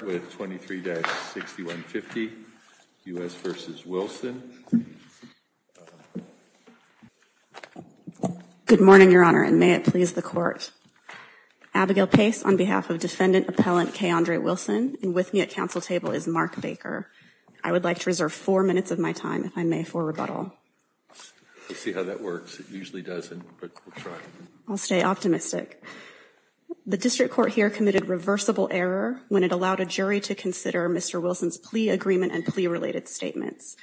Good morning, Your Honor, and may it please the Court. Abigail Pace, on behalf of Defendant Appellant K. Andre Wilson, and with me at Council Table is Mark Baker. I would like to reserve four minutes of my time, if I may, for rebuttal. We'll see how that works. It usually doesn't, but we'll try. I'll stay optimistic. The District Court here committed reversible error when it allowed a jury to consider Mr. Wilson's plea agreement and plea-related statements.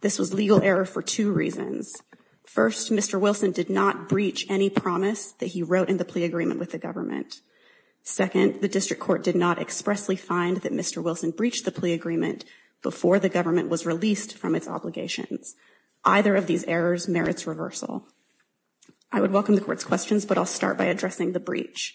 This was legal error for two reasons. First, Mr. Wilson did not breach any promise that he wrote in the plea agreement with the Second, the District Court did not expressly find that Mr. Wilson breached the plea agreement before the government was released from its obligations. Either of these errors merits reversal. I would welcome the Court's questions, but I'll start by addressing the breach.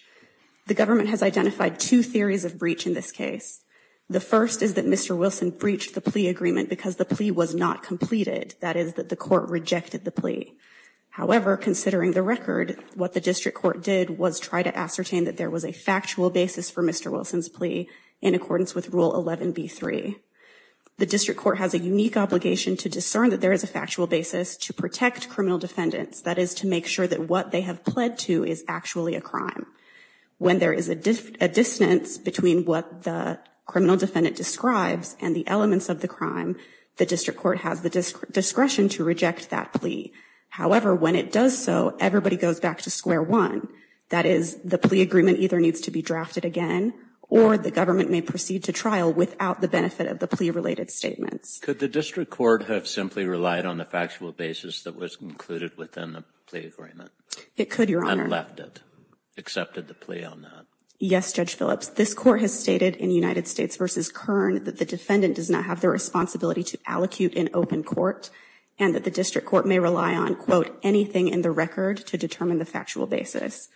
The government has identified two theories of breach in this case. The first is that Mr. Wilson breached the plea agreement because the plea was not completed. That is, that the Court rejected the plea. However, considering the record, what the District Court did was try to ascertain that there was a factual basis for Mr. Wilson's plea in accordance with Rule 11b-3. The District Court has a unique obligation to discern that there is a factual basis to protect criminal defendants, that is, to make sure that what they have pled to is actually a crime. When there is a dissonance between what the criminal defendant describes and the elements of the crime, the District Court has the discretion to reject that plea. However, when it does so, everybody goes back to square one. That is, the plea agreement either needs to be drafted again, or the government may proceed to trial without the benefit of the plea-related statements. Could the District Court have simply relied on the factual basis that was included within the plea agreement? It could, Your Honor. And left it? Accepted the plea on that? Yes, Judge Phillips. This Court has stated in United States v. Kern that the defendant does not have the responsibility to allocute in open court, and that the District Court may rely on, quote, anything in the record to determine the factual basis.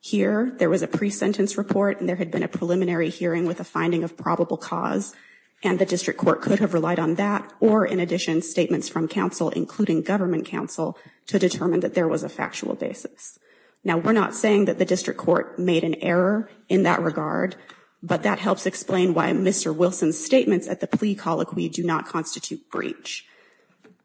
Here, there was a pre-sentence report, and there had been a preliminary hearing with a finding of probable cause, and the District Court could have relied on that or, in addition, statements from counsel, including government counsel, to determine that there was a factual basis. Now, we're not saying that the District Court made an error in that regard, but that helps explain why Mr. Wilson's statements at the plea colloquy do not constitute breach.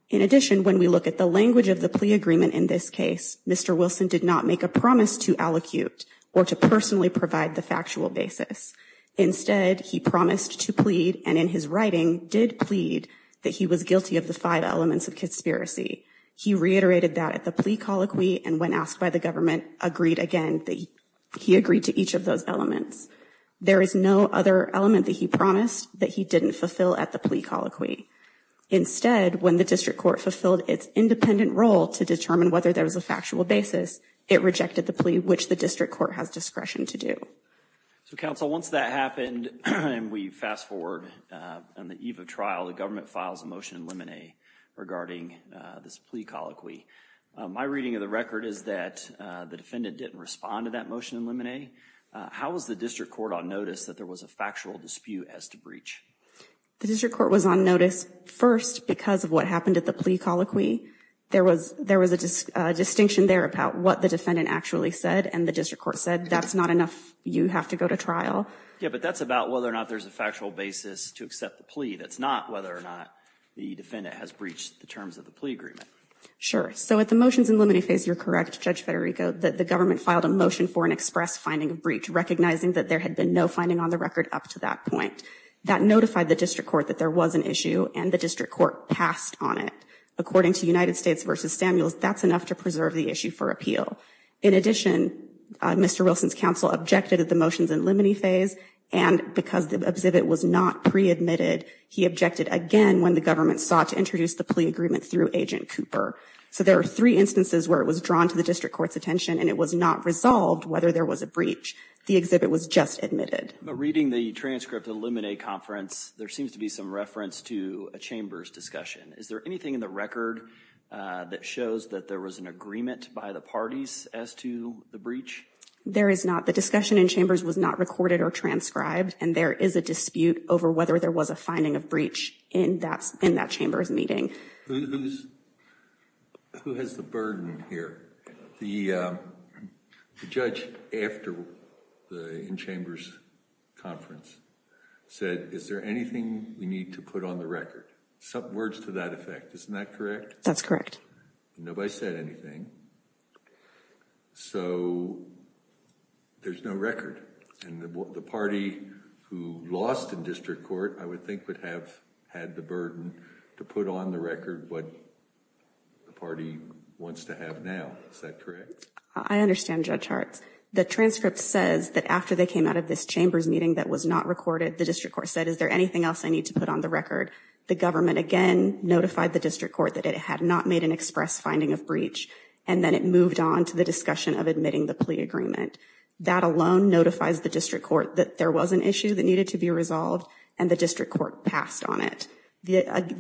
In addition, when we look at the language of the plea agreement in this case, Mr. Wilson did not make a promise to allocute or to personally provide the factual basis. Instead, he promised to plead, and in his writing, did plead, that he was guilty of the five elements of conspiracy. He reiterated that at the plea colloquy, and when asked by the government, agreed again that he agreed to each of those elements. There is no other element that he promised that he didn't fulfill at the plea colloquy. Instead, when the District Court fulfilled its independent role to determine whether there was a factual basis, it rejected the plea, which the District Court has discretion to do. So, counsel, once that happened, and we fast forward on the eve of trial, the government files a motion in limine regarding this plea colloquy. My reading of the record is that the defendant didn't respond to that motion in limine. How was the District Court on notice that there was a factual dispute as to breach? The District Court was on notice first because of what happened at the plea colloquy. There was a distinction there about what the defendant actually said, and the District Court, if you have to go to trial. Yeah, but that's about whether or not there's a factual basis to accept the plea. That's not whether or not the defendant has breached the terms of the plea agreement. Sure. So, at the motions in limine phase, you're correct, Judge Federico, that the government filed a motion for an express finding of breach, recognizing that there had been no finding on the record up to that point. That notified the District Court that there was an issue, and the District Court passed on it. According to United States v. Samuels, that's enough to preserve the issue for appeal. In addition, Mr. Wilson's counsel objected at the motions in limine phase, and because the exhibit was not pre-admitted, he objected again when the government sought to introduce the plea agreement through Agent Cooper. So there are three instances where it was drawn to the District Court's attention, and it was not resolved whether there was a breach. The exhibit was just admitted. Reading the transcript of the limine conference, there seems to be some reference to a chamber's discussion. Is there anything in the record that shows that there was an agreement by the parties as to the breach? There is not. The discussion in chambers was not recorded or transcribed, and there is a dispute over whether there was a finding of breach in that chamber's meeting. Who has the burden here? The judge, after the in-chambers conference, said, is there anything we need to put on the record? Words to that effect. Isn't that correct? That's correct. Nobody said anything. So there's no record, and the party who lost in District Court, I would think, would have had the burden to put on the record what the party wants to have now. Is that correct? I understand, Judge Hartz. The transcript says that after they came out of this chambers meeting that was not recorded, the District Court said, is there anything else I need to put on the record? The government, again, notified the District Court that it had not made an express finding of breach, and then it moved on to the discussion of admitting the plea agreement. That alone notifies the District Court that there was an issue that needed to be resolved, and the District Court passed on it. Again,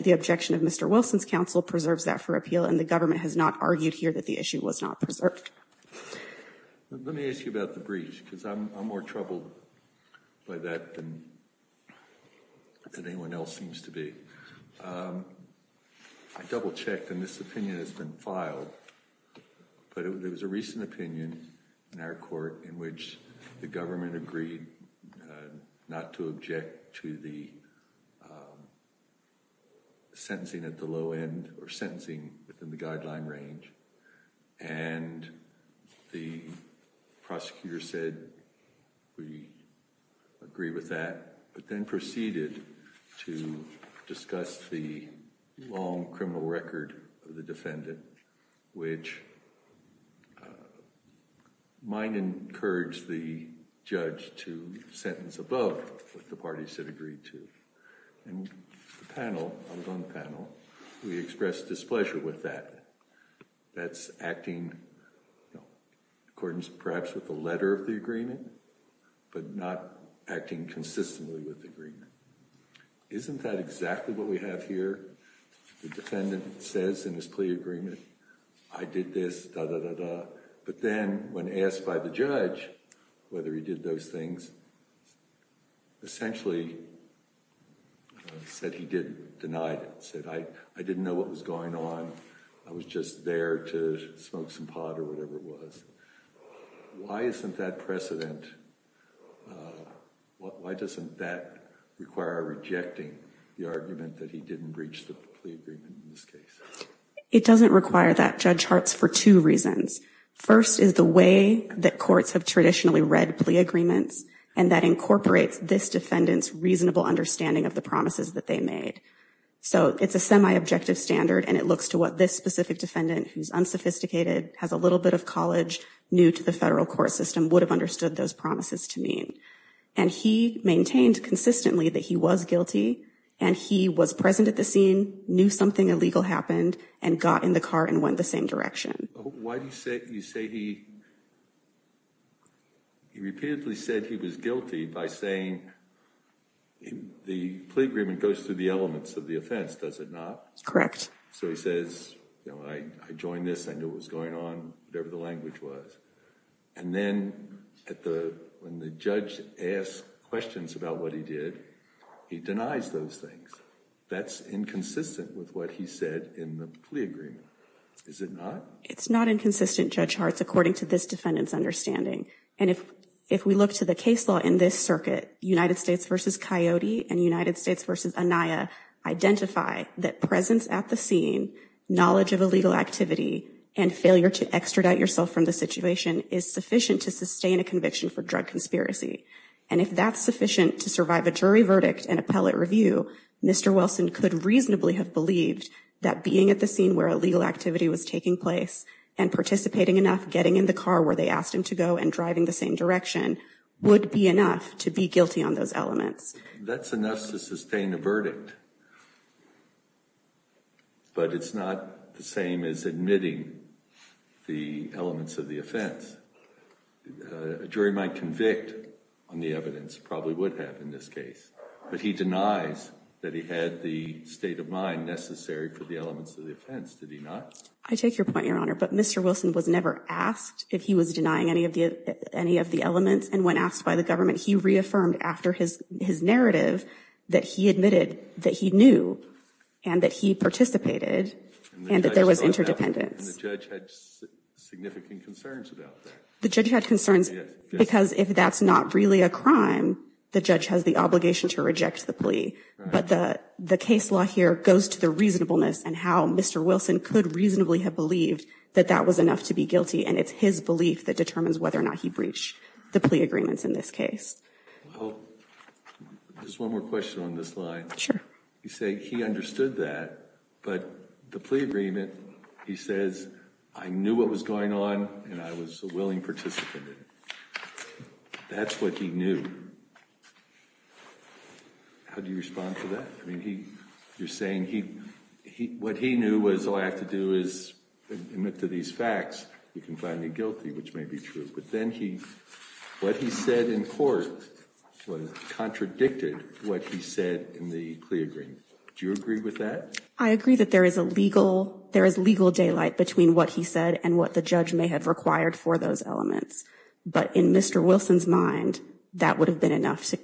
the objection of Mr. Wilson's counsel preserves that for appeal, and the government has not argued here that the issue was not preserved. Judge Hartz? Let me ask you about the breach, because I'm more troubled by that than anyone else seems to be. I double-checked, and this opinion has been filed, but it was a recent opinion in our court in which the government agreed not to object to the sentencing at the low end or sentencing within the guideline range. The prosecutor said, we agree with that, but then proceeded to discuss the long criminal record of the defendant, which might encourage the judge to sentence above what the parties had agreed to. In the panel, on one panel, we expressed displeasure with that. That's acting in accordance, perhaps, with the letter of the agreement, but not acting consistently with the agreement. Isn't that exactly what we have here? The defendant says in his plea agreement, I did this, da-da-da-da, but then when asked by the judge whether he did those things, essentially said he didn't, denied it, said I didn't know what was going on, I was just there to smoke some pot or whatever it was. Why isn't that precedent, why doesn't that require rejecting the argument that he didn't breach the plea agreement in this case? It doesn't require that, Judge Hartz, for two reasons. First is the way that courts have traditionally read plea agreements, and that incorporates this defendant's reasonable understanding of the promises that they made. It's a semi-objective standard, and it looks to what this specific defendant, who's unsophisticated, has a little bit of college, new to the federal court system, would have understood those promises to mean. He maintained consistently that he was guilty, and he was present at the scene, knew something illegal happened, and got in the car and went the same direction. Why do you say he repeatedly said he was guilty by saying the plea agreement goes through the elements of the offense, does it not? Correct. So he says, I joined this, I knew what was going on, whatever the language was. And then when the judge asks questions about what he did, he denies those things. That's inconsistent with what he said in the plea agreement, is it not? No, it's not inconsistent, Judge Hartz, according to this defendant's understanding. And if we look to the case law in this circuit, United States v. Coyote and United States v. Anaya identify that presence at the scene, knowledge of illegal activity, and failure to extradite yourself from the situation is sufficient to sustain a conviction for drug conspiracy. And if that's sufficient to survive a jury verdict and appellate review, Mr. Wilson could reasonably have believed that being at the scene where illegal activity was taking place and participating enough, getting in the car where they asked him to go, and driving the same direction would be enough to be guilty on those elements. That's enough to sustain a verdict, but it's not the same as admitting the elements of the offense. A jury might convict on the evidence, probably would have in this case, but he denies that he had the state of mind necessary for the elements of the offense, did he not? I take your point, Your Honor. But Mr. Wilson was never asked if he was denying any of the elements. And when asked by the government, he reaffirmed after his narrative that he admitted that he knew and that he participated and that there was interdependence. And the judge had significant concerns about that. The judge had concerns because if that's not really a crime, the judge has the obligation to reject the plea. But the case law here goes to the reasonableness and how Mr. Wilson could reasonably have believed that that was enough to be guilty. And it's his belief that determines whether or not he breached the plea agreements in this case. Well, just one more question on this line. Sure. You say he understood that, but the plea agreement, he says, I knew what was going on and I was a willing participant in it. That's what he knew. How do you respond to that? I mean, you're saying what he knew was all I have to do is admit to these facts, you can find me guilty, which may be true. But then what he said in court contradicted what he said in the plea agreement. Do you agree with that? I agree that there is legal daylight between what he said and what the judge may have required for those elements. But in Mr. Wilson's mind, that would have been enough to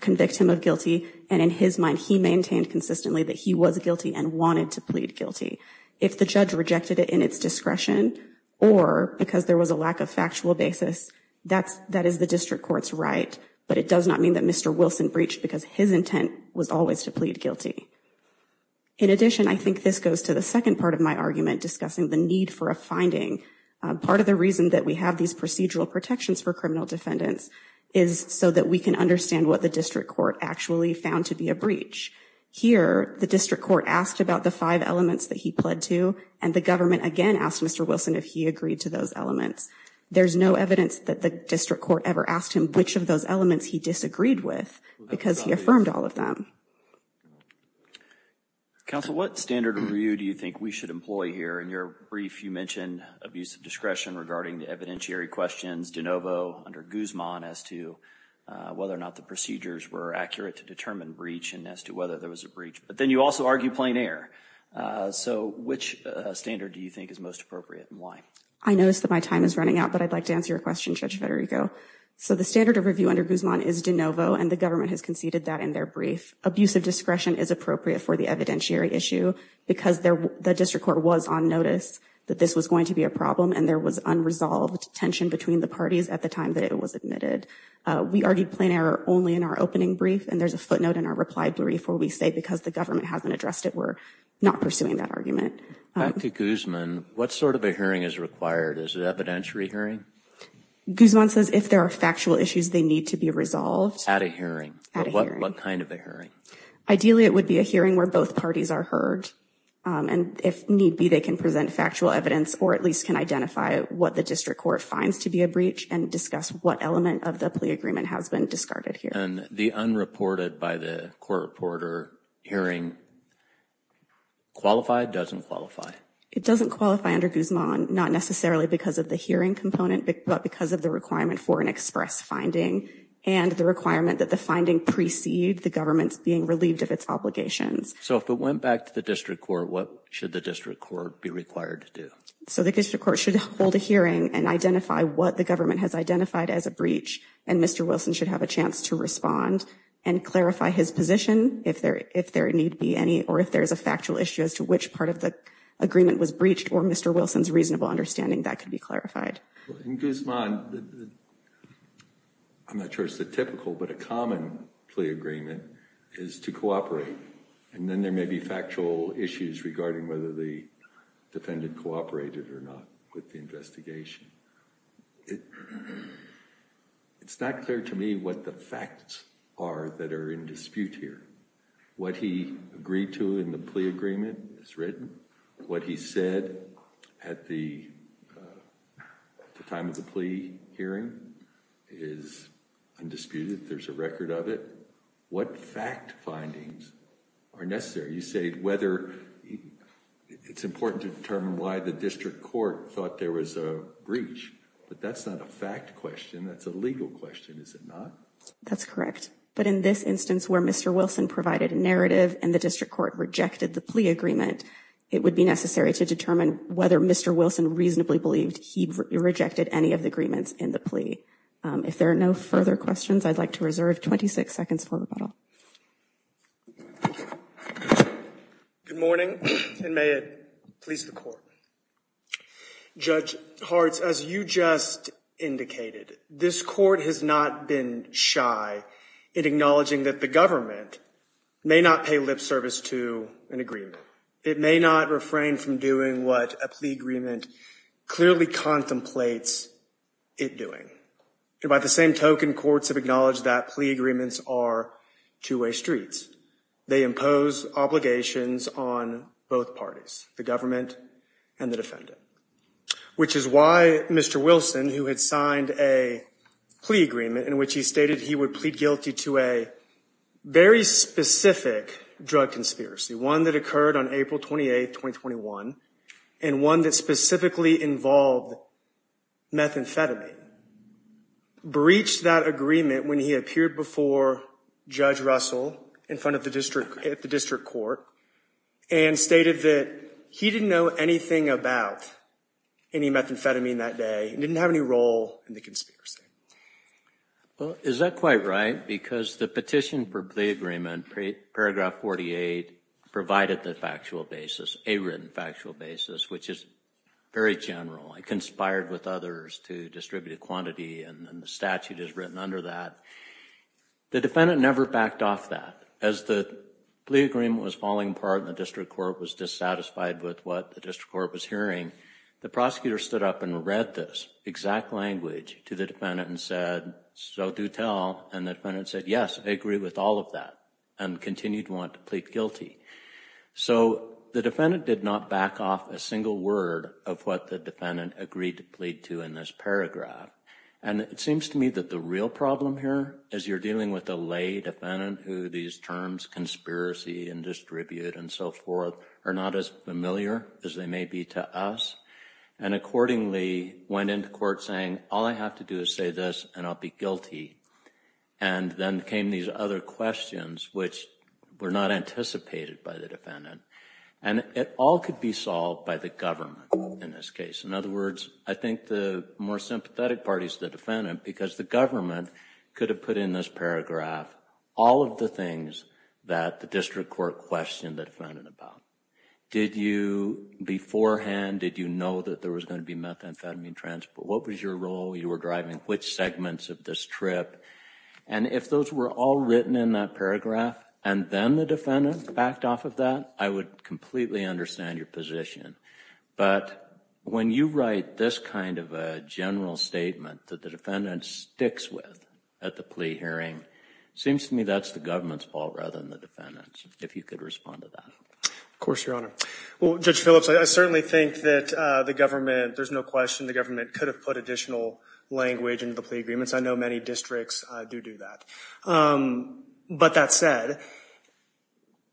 convict him of guilty. And in his mind, he maintained consistently that he was guilty and wanted to plead guilty. If the judge rejected it in its discretion, or because there was a lack of factual basis, that is the district court's right. But it does not mean that Mr. Wilson breached because his intent was always to plead guilty. In addition, I think this goes to the second part of my argument discussing the need for a finding. Part of the reason that we have these procedural protections for criminal defendants is so that we can understand what the district court actually found to be a breach. Here, the district court asked about the five elements that he pled to, and the government again asked Mr. Wilson if he agreed to those elements. There's no evidence that the district court ever asked him which of those elements he disagreed with because he affirmed all of them. Counsel, what standard of review do you think we should employ here? In your brief, you mentioned abuse of discretion regarding the evidentiary questions, de novo, under Guzman, as to whether or not the procedures were accurate to determine breach and as to whether there was a breach. But then you also argue plein air. So which standard do you think is most appropriate and why? I notice that my time is running out, but I'd like to answer your question, Judge Federico. So the standard of review under Guzman is de novo, and the government has conceded that in their brief. Abusive discretion is appropriate for the evidentiary issue because the district court was on notice that this was going to be a problem and there was unresolved tension between the parties at the time that it was admitted. We argued plein air only in our opening brief, and there's a footnote in our reply brief where we say because the government hasn't addressed it, we're not pursuing that argument. Back to Guzman, what sort of a hearing is required? Is it evidentiary hearing? Guzman says if there are factual issues, they need to be resolved. At a hearing. At a hearing. What kind of a hearing? Ideally, it would be a hearing where both parties are heard, and if need be, they can present factual evidence or at least can identify what the district court finds to be a breach and discuss what element of the plea agreement has been discarded here. And the unreported by the court reporter hearing, qualified, doesn't qualify? It doesn't qualify under Guzman, not necessarily because of the hearing component, but because of the requirement for an express finding and the requirement that the finding precede the government's being relieved of its obligations. So if it went back to the district court, what should the district court be required to do? So the district court should hold a hearing and identify what the government has identified as a breach, and Mr. Wilson should have a chance to respond and clarify his position if there need be any, or if there's a factual issue as to which part of the agreement was breached or Mr. Wilson's reasonable understanding that could be clarified. In Guzman, I'm not sure it's the typical, but a common plea agreement is to cooperate, and then there may be factual issues regarding whether the defendant cooperated or not with the investigation. It's not clear to me what the facts are that are in dispute here. What he agreed to in the plea agreement is written. What he said at the time of the plea hearing is undisputed. There's a record of it. What fact findings are necessary? You say whether it's important to determine why the district court thought there was a breach, but that's not a fact question, that's a legal question, is it not? That's correct. But in this instance where Mr. Wilson provided a narrative and the district court rejected the plea agreement, it would be necessary to determine whether Mr. Wilson reasonably believed he rejected any of the agreements in the plea. If there are no further questions, I'd like to reserve 26 seconds for rebuttal. Good morning, and may it please the court. Judge Hartz, as you just indicated, this court has not been shy in acknowledging that the government may not pay lip service to an agreement. It may not refrain from doing what a plea agreement clearly contemplates it doing. By the same token, courts have acknowledged that plea agreements are two-way streets. They impose obligations on both parties, the government and the defendant. Which is why Mr. Wilson, who had signed a plea agreement in which he stated he would plead guilty to a very specific drug conspiracy, one that occurred on April 28, 2021, and one that specifically involved methamphetamine, breached that agreement when he appeared before Judge Russell in front of the district court and stated that he didn't know anything about any methamphetamine that day and didn't have any role in the conspiracy. Well, is that quite right? Because the petition for plea agreement, paragraph 48, provided the factual basis, a written factual basis, which is very general. It conspired with others to distribute a quantity and the statute is written under that. The defendant never backed off that. As the plea agreement was falling apart and the district court was dissatisfied with what the district court was hearing, the prosecutor stood up and read this exact language to the defendant and said, so do tell. And the defendant said, yes, I agree with all of that and continued to want to plead guilty. So the defendant did not back off a single word of what the defendant agreed to plead to in this paragraph. And it seems to me that the real problem here is you're dealing with a lay defendant who these terms conspiracy and distribute and so forth are not as familiar as they may be to us. And accordingly went into court saying, all I have to do is say this and I'll be guilty. And then came these other questions which were not anticipated by the defendant. And it all could be solved by the government in this case. In other words, I think the more sympathetic parties to the defendant because the government could have put in this paragraph all of the things that the district court questioned the defendant about. Did you beforehand, did you know that there was going to be methamphetamine transport? What was your role? You were driving which segments of this trip? And if those were all written in that paragraph and then the defendant backed off of that, I would completely understand your position. But when you write this kind of a general statement that the defendant sticks with at the plea hearing, it seems to me that's the government's fault rather than the defendant's if you could respond to that. Of course, Your Honor. Well, Judge Phillips, I certainly think that the government, there's no question the government could have put additional language into the plea agreements. I know many districts do do that. But that said,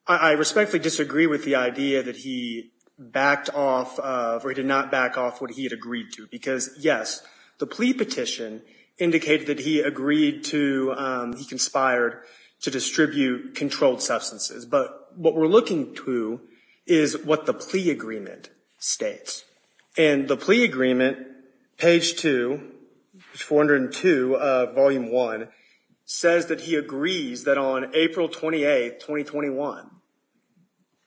I respectfully disagree with the idea that he backed off or he did not back off what he had agreed to. Because yes, the plea petition indicated that he agreed to, he conspired to distribute controlled substances. But what we're looking to is what the plea agreement states. And the plea agreement, page two, 402 of volume one, says that he agrees that on April 28, 2021,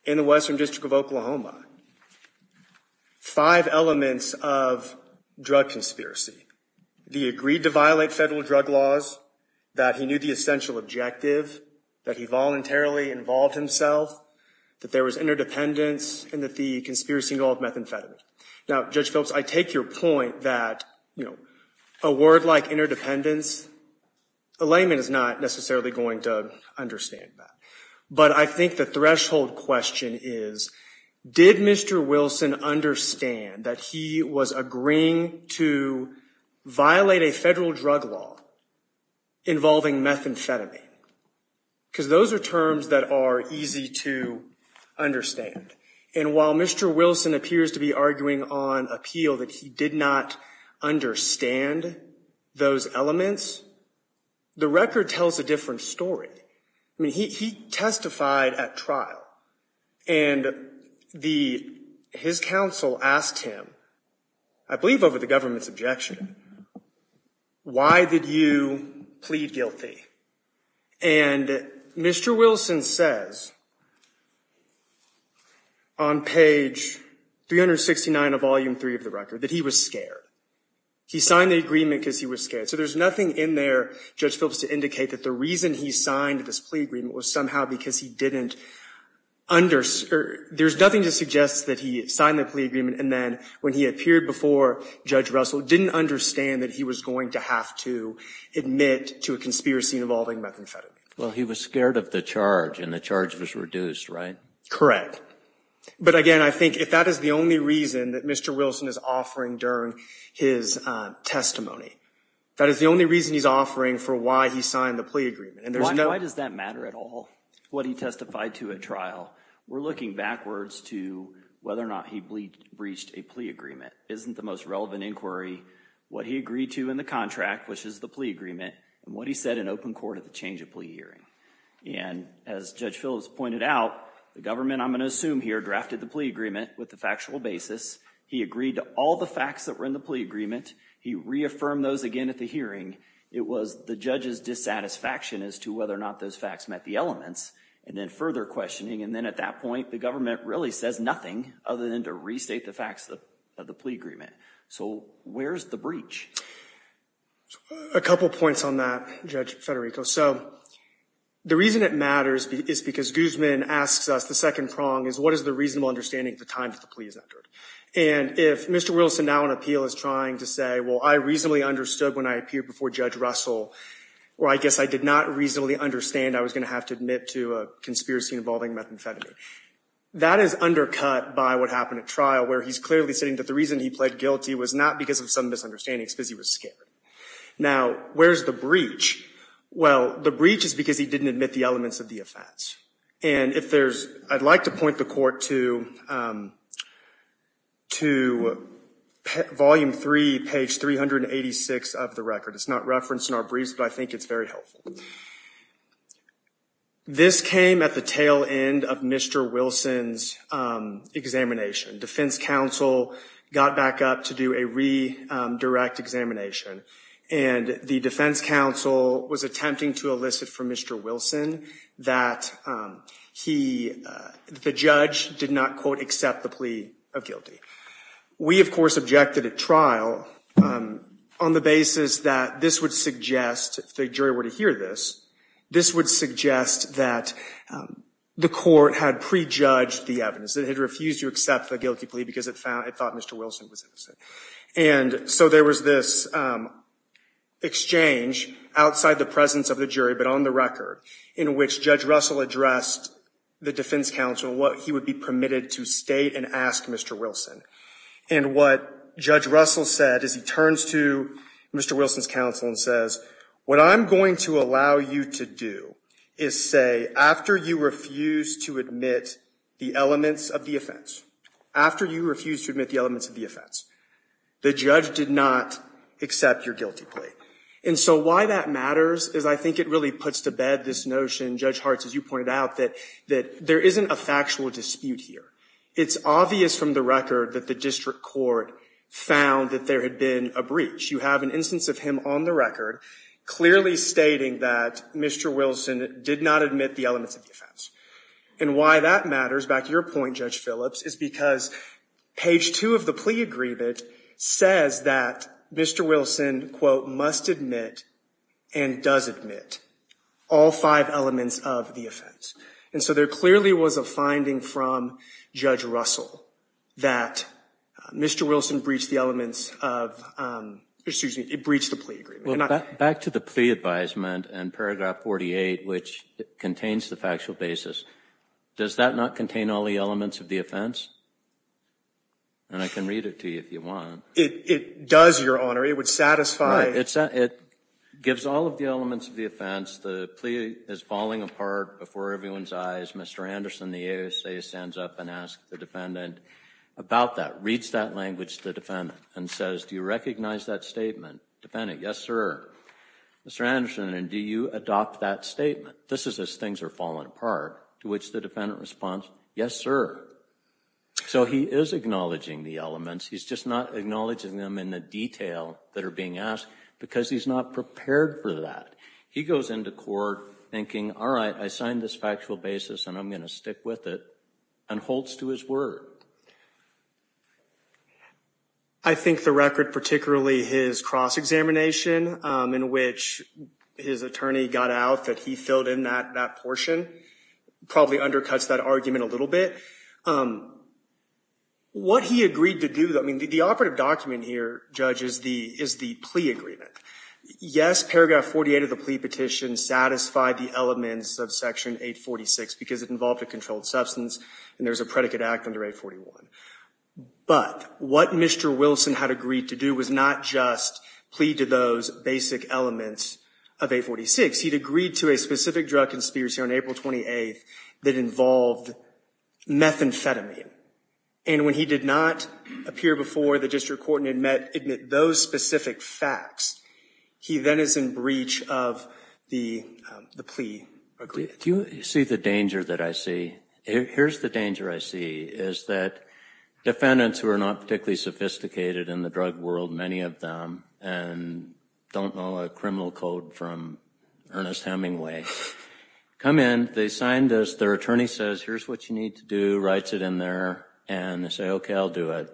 in the Western District of Oklahoma, five elements of drug conspiracy. He agreed to violate federal drug laws, that he knew the essential objective, that he voluntarily involved himself, that there was interdependence, and that the conspiracy involved methamphetamine. Now, Judge Phillips, I take your point that a word like interdependence, a layman is not necessarily going to understand that. But I think the threshold question is, did Mr. Wilson understand that he was agreeing to violate a federal drug law involving methamphetamine? Because those are terms that are easy to understand. And while Mr. Wilson appears to be arguing on appeal that he did not understand those elements, the record tells a different story. I mean, he testified at trial and his counsel asked him, I believe over the government's objection, why did you plead guilty? And Mr. Wilson says, on page 369 of volume three of the record, that he was scared. He signed the agreement because he was scared. So there's nothing in there, Judge Phillips, to indicate that the reason he signed this plea agreement was somehow because he didn't understand, there's nothing to suggest that he signed the plea agreement and then when he appeared before Judge Russell, didn't understand that he was going to have to admit to a conspiracy involving methamphetamine. Well, he was scared of the charge and the charge was reduced, right? Correct. But again, I think if that is the only reason that Mr. Wilson is offering during his testimony, that is the only reason he's offering for why he signed the plea agreement. And why does that matter at all, what he testified to at trial? We're looking backwards to whether or not he breached a plea agreement. Isn't the most relevant inquiry, what he agreed to in the contract, which is the plea agreement, and what he said in open court at the change of plea hearing. And as Judge Phillips pointed out, the government, I'm going to assume here, drafted the plea agreement with the factual basis. He agreed to all the facts that were in the plea agreement. He reaffirmed those again at the hearing. It was the judge's dissatisfaction as to whether or not those facts met the elements and then further questioning. And then at that point, the government really says nothing other than to restate the facts of the plea agreement. So where's the breach? A couple points on that, Judge Federico. So the reason it matters is because Guzman asks us, the second prong is, what is the reasonable understanding at the time that the plea is entered? And if Mr. Wilson, now on appeal, is trying to say, well, I reasonably understood when I appeared before Judge Russell, or I guess I did not reasonably understand I was going to have to admit to a conspiracy involving methamphetamine. That is undercut by what happened at trial, where he's clearly saying that the reason he pled guilty was not because of some misunderstandings, because he was scared. Now, where's the breach? Well, the breach is because he didn't admit the elements of the offense. And if there's, I'd like to point the court to volume three, page 386 of the record. It's not referenced in our briefs, but I think it's very helpful. So this came at the tail end of Mr. Wilson's examination. Defense counsel got back up to do a re-direct examination, and the defense counsel was attempting to elicit from Mr. Wilson that he, the judge, did not, quote, accept the plea of guilty. We, of course, objected at trial on the basis that this would suggest, if the jury were to hear this, this would suggest that the court had prejudged the evidence, that it had refused to accept the guilty plea because it thought Mr. Wilson was innocent. And so there was this exchange outside the presence of the jury, but on the record, in which Judge Russell addressed the defense counsel what he would be permitted to state and ask Mr. Wilson. And what Judge Russell said is he turns to Mr. Wilson's counsel and says, what I'm going to allow you to do is say, after you refuse to admit the elements of the offense, after you refuse to admit the elements of the offense, the judge did not accept your guilty plea. And so why that matters is I think it really puts to bed this notion, Judge Hartz, as you pointed out, that there isn't a factual dispute here. It's obvious from the record that the district court found that there had been a breach. You have an instance of him on the record clearly stating that Mr. Wilson did not admit the elements of the offense. And why that matters, back to your point, Judge Phillips, is because page two of the plea agreement says that Mr. Wilson, quote, must admit and does admit all five elements of the offense. And so there clearly was a finding from Judge Russell that Mr. Wilson breached the elements of, excuse me, it breached the plea agreement. Well, back to the plea advisement and paragraph 48, which contains the factual basis, does that not contain all the elements of the offense? And I can read it to you if you want. It does, Your Honor. It would satisfy. It gives all of the elements of the offense. The plea is falling apart before everyone's eyes. Mr. Anderson, the ASA, stands up and asks the defendant about that, reads that language and says, do you recognize that statement? Defendant, yes, sir. Mr. Anderson, do you adopt that statement? This is as things are falling apart, to which the defendant responds, yes, sir. So he is acknowledging the elements. He's just not acknowledging them in the detail that are being asked because he's not prepared for that. He goes into court thinking, all right, I signed this factual basis and I'm going to stick with it and holds to his word. I think the record, particularly his cross-examination in which his attorney got out that he filled in that portion, probably undercuts that argument a little bit. What he agreed to do, I mean, the operative document here, Judge, is the plea agreement. Yes, paragraph 48 of the plea petition satisfied the elements of section 846 because it involved a controlled substance and there's a predicate act under 841. But what Mr. Wilson had agreed to do was not just plead to those basic elements of 846. He'd agreed to a specific drug conspiracy on April 28th that involved methamphetamine. And when he did not appear before the district court and admit those specific facts, he then is in breach of the plea agreement. Do you see the danger that I see? Here's the danger I see, is that defendants who are not particularly sophisticated in the drug world, many of them, and don't know a criminal code from Ernest Hemingway, come in, they signed this, their attorney says, here's what you need to do, writes it in there, and they say, okay, I'll do it.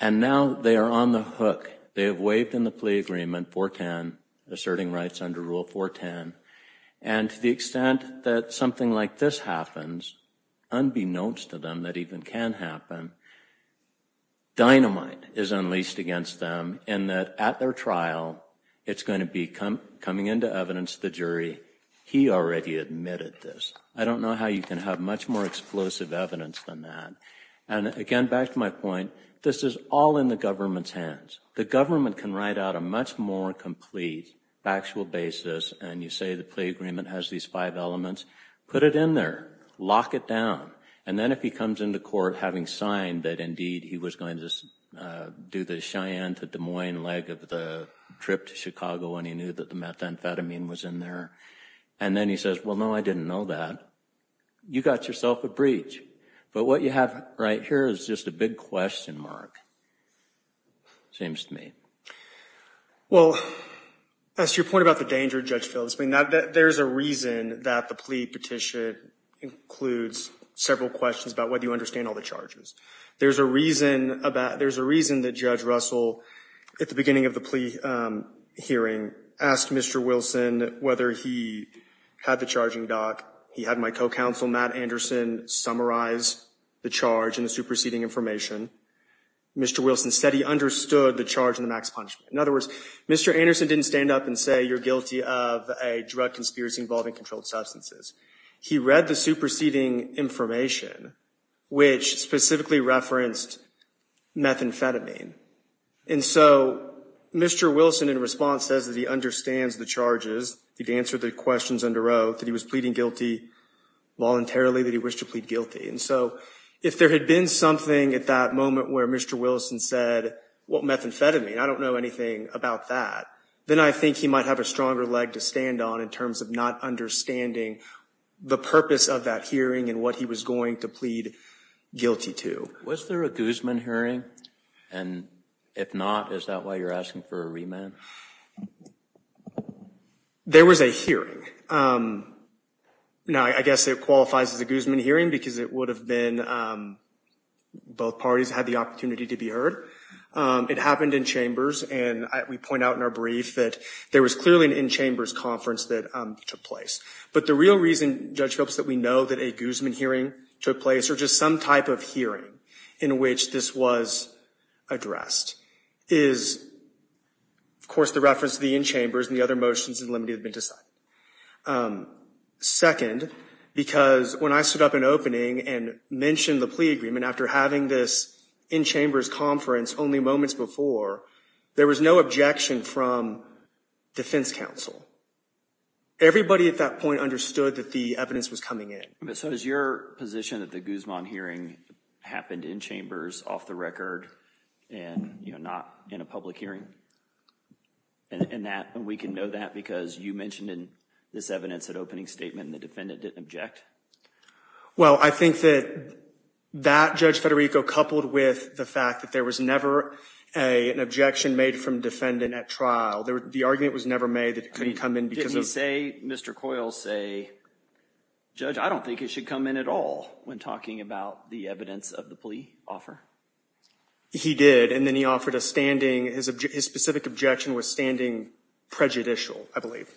And now they are on the hook. They have waived in the plea agreement 410, asserting rights under Rule 410. And to the extent that something like this happens, unbeknownst to them that even can happen, dynamite is unleashed against them in that at their trial, it's going to be coming into evidence to the jury, he already admitted this. I don't know how you can have much more explosive evidence than that. And again, back to my point, this is all in the government's hands. The government can write out a much more complete, factual basis, and you say the plea agreement has these five elements, put it in there, lock it down, and then if he comes into court having signed that indeed he was going to do the Cheyenne to Des Moines leg of the trip to Chicago when he knew that the methamphetamine was in there, and then he says, well, no, I didn't know that, you got yourself a breach. But what you have right here is just a big question mark. James D. May. Well, as to your point about the danger, Judge Phillips, I mean, there's a reason that the plea petition includes several questions about whether you understand all the charges. There's a reason that Judge Russell, at the beginning of the plea hearing, asked Mr. Wilson whether he had the charging doc, he had my co-counsel, Matt Anderson, summarize the charge and the superseding information. Mr. Wilson said he understood the charge and the max punishment. In other words, Mr. Anderson didn't stand up and say you're guilty of a drug conspiracy involving controlled substances. He read the superseding information, which specifically referenced methamphetamine. And so Mr. Wilson, in response, says that he understands the charges, he'd answered the questions under oath, that he was pleading guilty voluntarily, that he wished to plead guilty. And so if there had been something at that moment where Mr. Wilson said, well, methamphetamine, I don't know anything about that, then I think he might have a stronger leg to stand on in terms of not understanding the purpose of that hearing and what he was going to plead guilty to. Was there a Guzman hearing? And if not, is that why you're asking for a remand? There was a hearing. Now, I guess it qualifies as a Guzman hearing because it would have been both parties had the opportunity to be heard. It happened in chambers, and we point out in our brief that there was clearly an in-chambers conference that took place. But the real reason, Judge Phelps, that we know that a Guzman hearing took place or just some type of hearing in which this was addressed is, of course, the reference to the in-chambers and the other motions that have been decided. Second, because when I stood up in opening and mentioned the plea agreement after having this in-chambers conference only moments before, there was no objection from defense counsel. Everybody at that point understood that the evidence was coming in. So is your position that the Guzman hearing happened in chambers off the record and not in a public hearing? And we can know that because you mentioned this evidence at opening statement and the defendant didn't object? Well, I think that that, Judge Federico, coupled with the fact that there was never an objection made from defendant at trial, the argument was never made that it couldn't come in because of— Did he say, Mr. Coyle say, Judge, I don't think it should come in at all when talking about the evidence of the plea offer? He did. And then he offered a standing—his specific objection was standing prejudicial, I believe.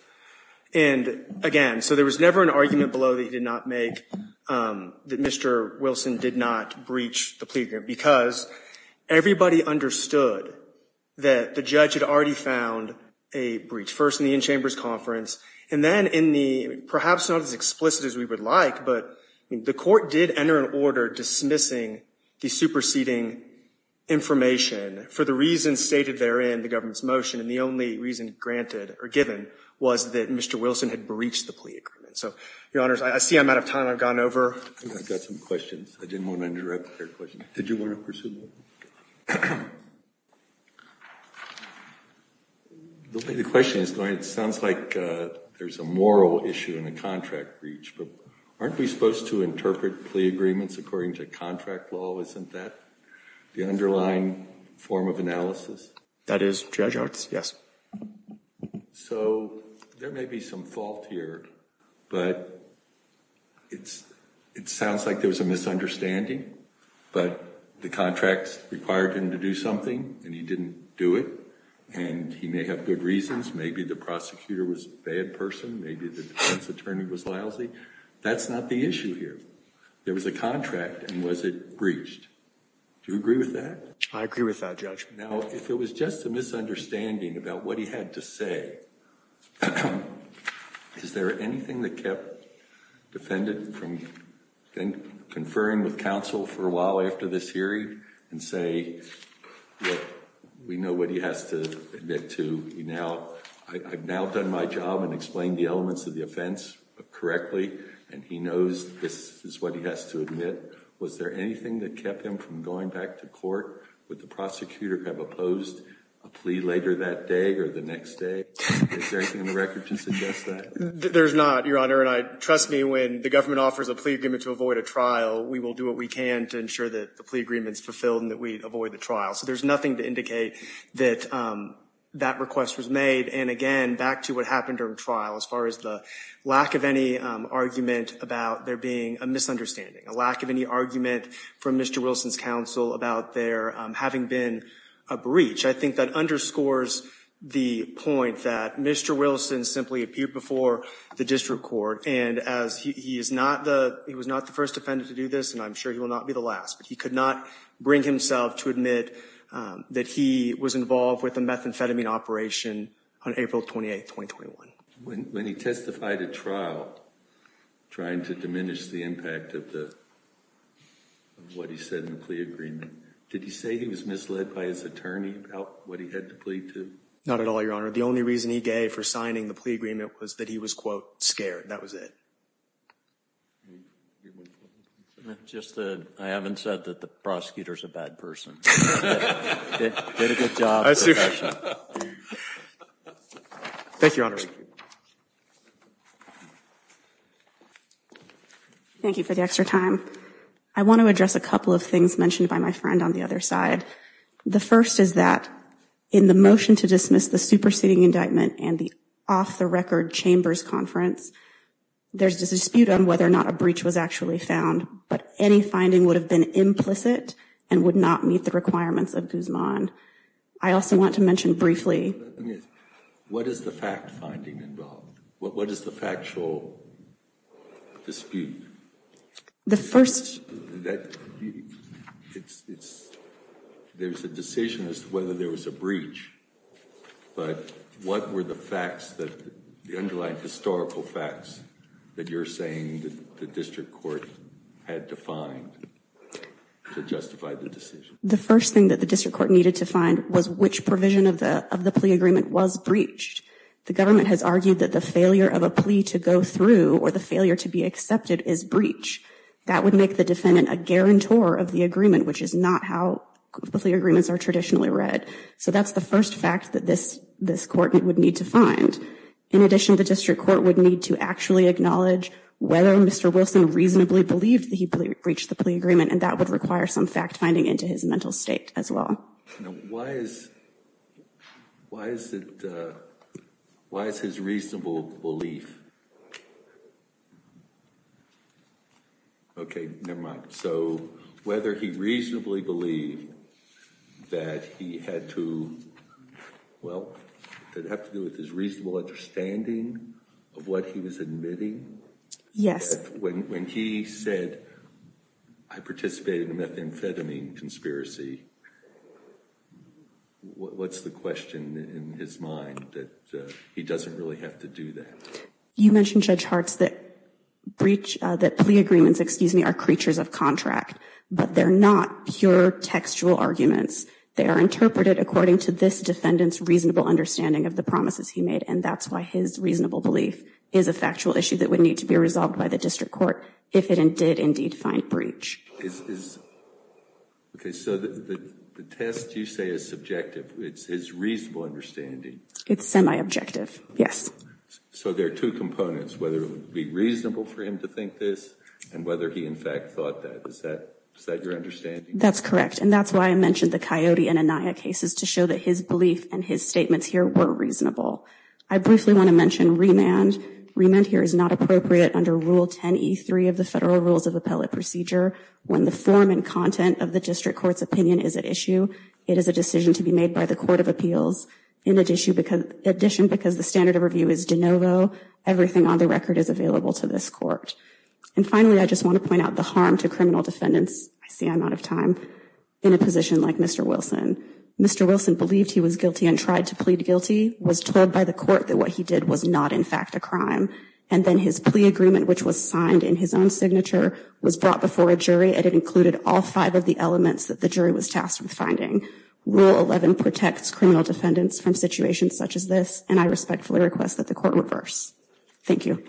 And again, so there was never an argument below that he did not make that Mr. Wilson did not breach the plea agreement because everybody understood that the judge had already found a breach. First in the in-chambers conference, and then in the—perhaps not as explicit as we would like, but the court did enter an order dismissing the superseding information for the reasons stated there in the government's motion. And the only reason granted or given was that Mr. Wilson had breached the plea agreement. So, Your Honors, I see I'm out of time. I've gone over. I've got some questions. I didn't want to interrupt their question. Did you want to pursue them? The way the question is going, it sounds like there's a moral issue in a contract breach, but aren't we supposed to interpret plea agreements according to contract law? Isn't that the underlying form of analysis? That is, Judge Hartz, yes. So, there may be some fault here, but it sounds like there was a misunderstanding. But the contracts required him to do something, and he didn't do it. And he may have good reasons. Maybe the prosecutor was a bad person. Maybe the defense attorney was lousy. That's not the issue here. There was a contract, and was it breached? Do you agree with that? I agree with that, Judge. Now, if it was just a misunderstanding about what he had to say, is there anything that kept defendant from then conferring with counsel for a while after this hearing and say, look, we know what he has to admit to. I've now done my job and explained the elements of the offense correctly, and he knows this is what he has to admit. Was there anything that kept him from going back to court? Would the prosecutor have opposed a plea later that day or the next day? Is there anything in the record to suggest that? There's not, Your Honor. And trust me, when the government offers a plea agreement to avoid a trial, we will do what we can to ensure that the plea agreement is fulfilled and that we avoid the trial. So there's nothing to indicate that that request was made. And again, back to what happened during trial, as far as the lack of any argument about there being a misunderstanding, a lack of any argument from Mr. Wilson's counsel about there having been a breach. I think that underscores the point that Mr. Wilson simply appeared before the district court, and he was not the first defendant to do this, and I'm sure he will not be the last, but he could not bring himself to admit that he was involved with a methamphetamine operation on April 28, 2021. When he testified at trial, trying to diminish the impact of what he said in the plea agreement, did he say he was misled by his attorney about what he had to plead to? Not at all, Your Honor. The only reason he gave for signing the plea agreement was that he was, quote, scared. That was it. I haven't said that the prosecutor is a bad person. He did a good job. Thank you, Your Honor. Thank you for the extra time. I want to address a couple of things mentioned by my friend on the other side. The first is that in the motion to dismiss the superseding indictment and the off-the-record chambers conference, there's a dispute on whether or not a breach was actually found, but any finding would have been implicit and would not meet the requirements of Guzman. I also want to mention briefly. What is the fact finding involved? What is the factual dispute? The first. There's a decision as to whether there was a breach, but what were the facts that the underlying historical facts that you're saying that the district court had to find to justify the decision? The first thing that the district court needed to find was which provision of the plea agreement was breached. The government has argued that the failure of a plea to go through or the failure to be accepted is breach. That would make the defendant a guarantor of the agreement, which is not how the agreements are traditionally read. So that's the first fact that this court would need to find. In addition, the district court would need to actually acknowledge whether Mr. Wilson reasonably believed that he breached the plea agreement, and that would require some fact finding into his mental state as well. Now, why is it, why is his reasonable belief? Okay, never mind. So whether he reasonably believed that he had to, well, did it have to do with his reasonable understanding of what he was admitting? Yes. When he said, I participated in a methamphetamine conspiracy, what's the question in his mind that he doesn't really have to do that? You mentioned, Judge Hartz, that breach, that plea agreements, excuse me, are creatures of contract, but they're not pure textual arguments. They are interpreted according to this defendant's reasonable understanding of the promises he made, and that's why his reasonable belief is a factual issue that would need to be resolved by the district court if it did indeed find breach. Okay, so the test you say is subjective. It's his reasonable understanding. It's semi-objective, yes. So there are two components, whether it would be reasonable for him to think this, and whether he in fact thought that. Is that your understanding? That's correct, and that's why I mentioned the Coyote and Anaya cases, to show that his belief and his statements here were reasonable. I briefly want to mention remand. Remand here is not appropriate under Rule 10e3 of the Federal Rules of Appellate Procedure. When the form and content of the district court's opinion is at issue, it is a decision to be made by the Court of Appeals. In addition, because the standard of review is de novo, everything on the record is available to this court. And finally, I just want to point out the harm to criminal defendants, I see I'm out of time, in a position like Mr. Wilson. Mr. Wilson believed he was guilty and tried to plead guilty, was told by the court that what he did was not in fact a crime, and then his plea agreement, which was signed in his own signature, was brought before a jury, and it included all five of the elements that the jury was tasked with finding. Rule 11 protects criminal defendants from situations such as this, and I respectfully request that the court reverse. Thank you.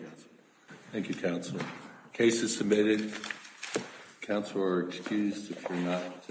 Thank you, Counselor. Case is submitted. Counselor, excused if you're not.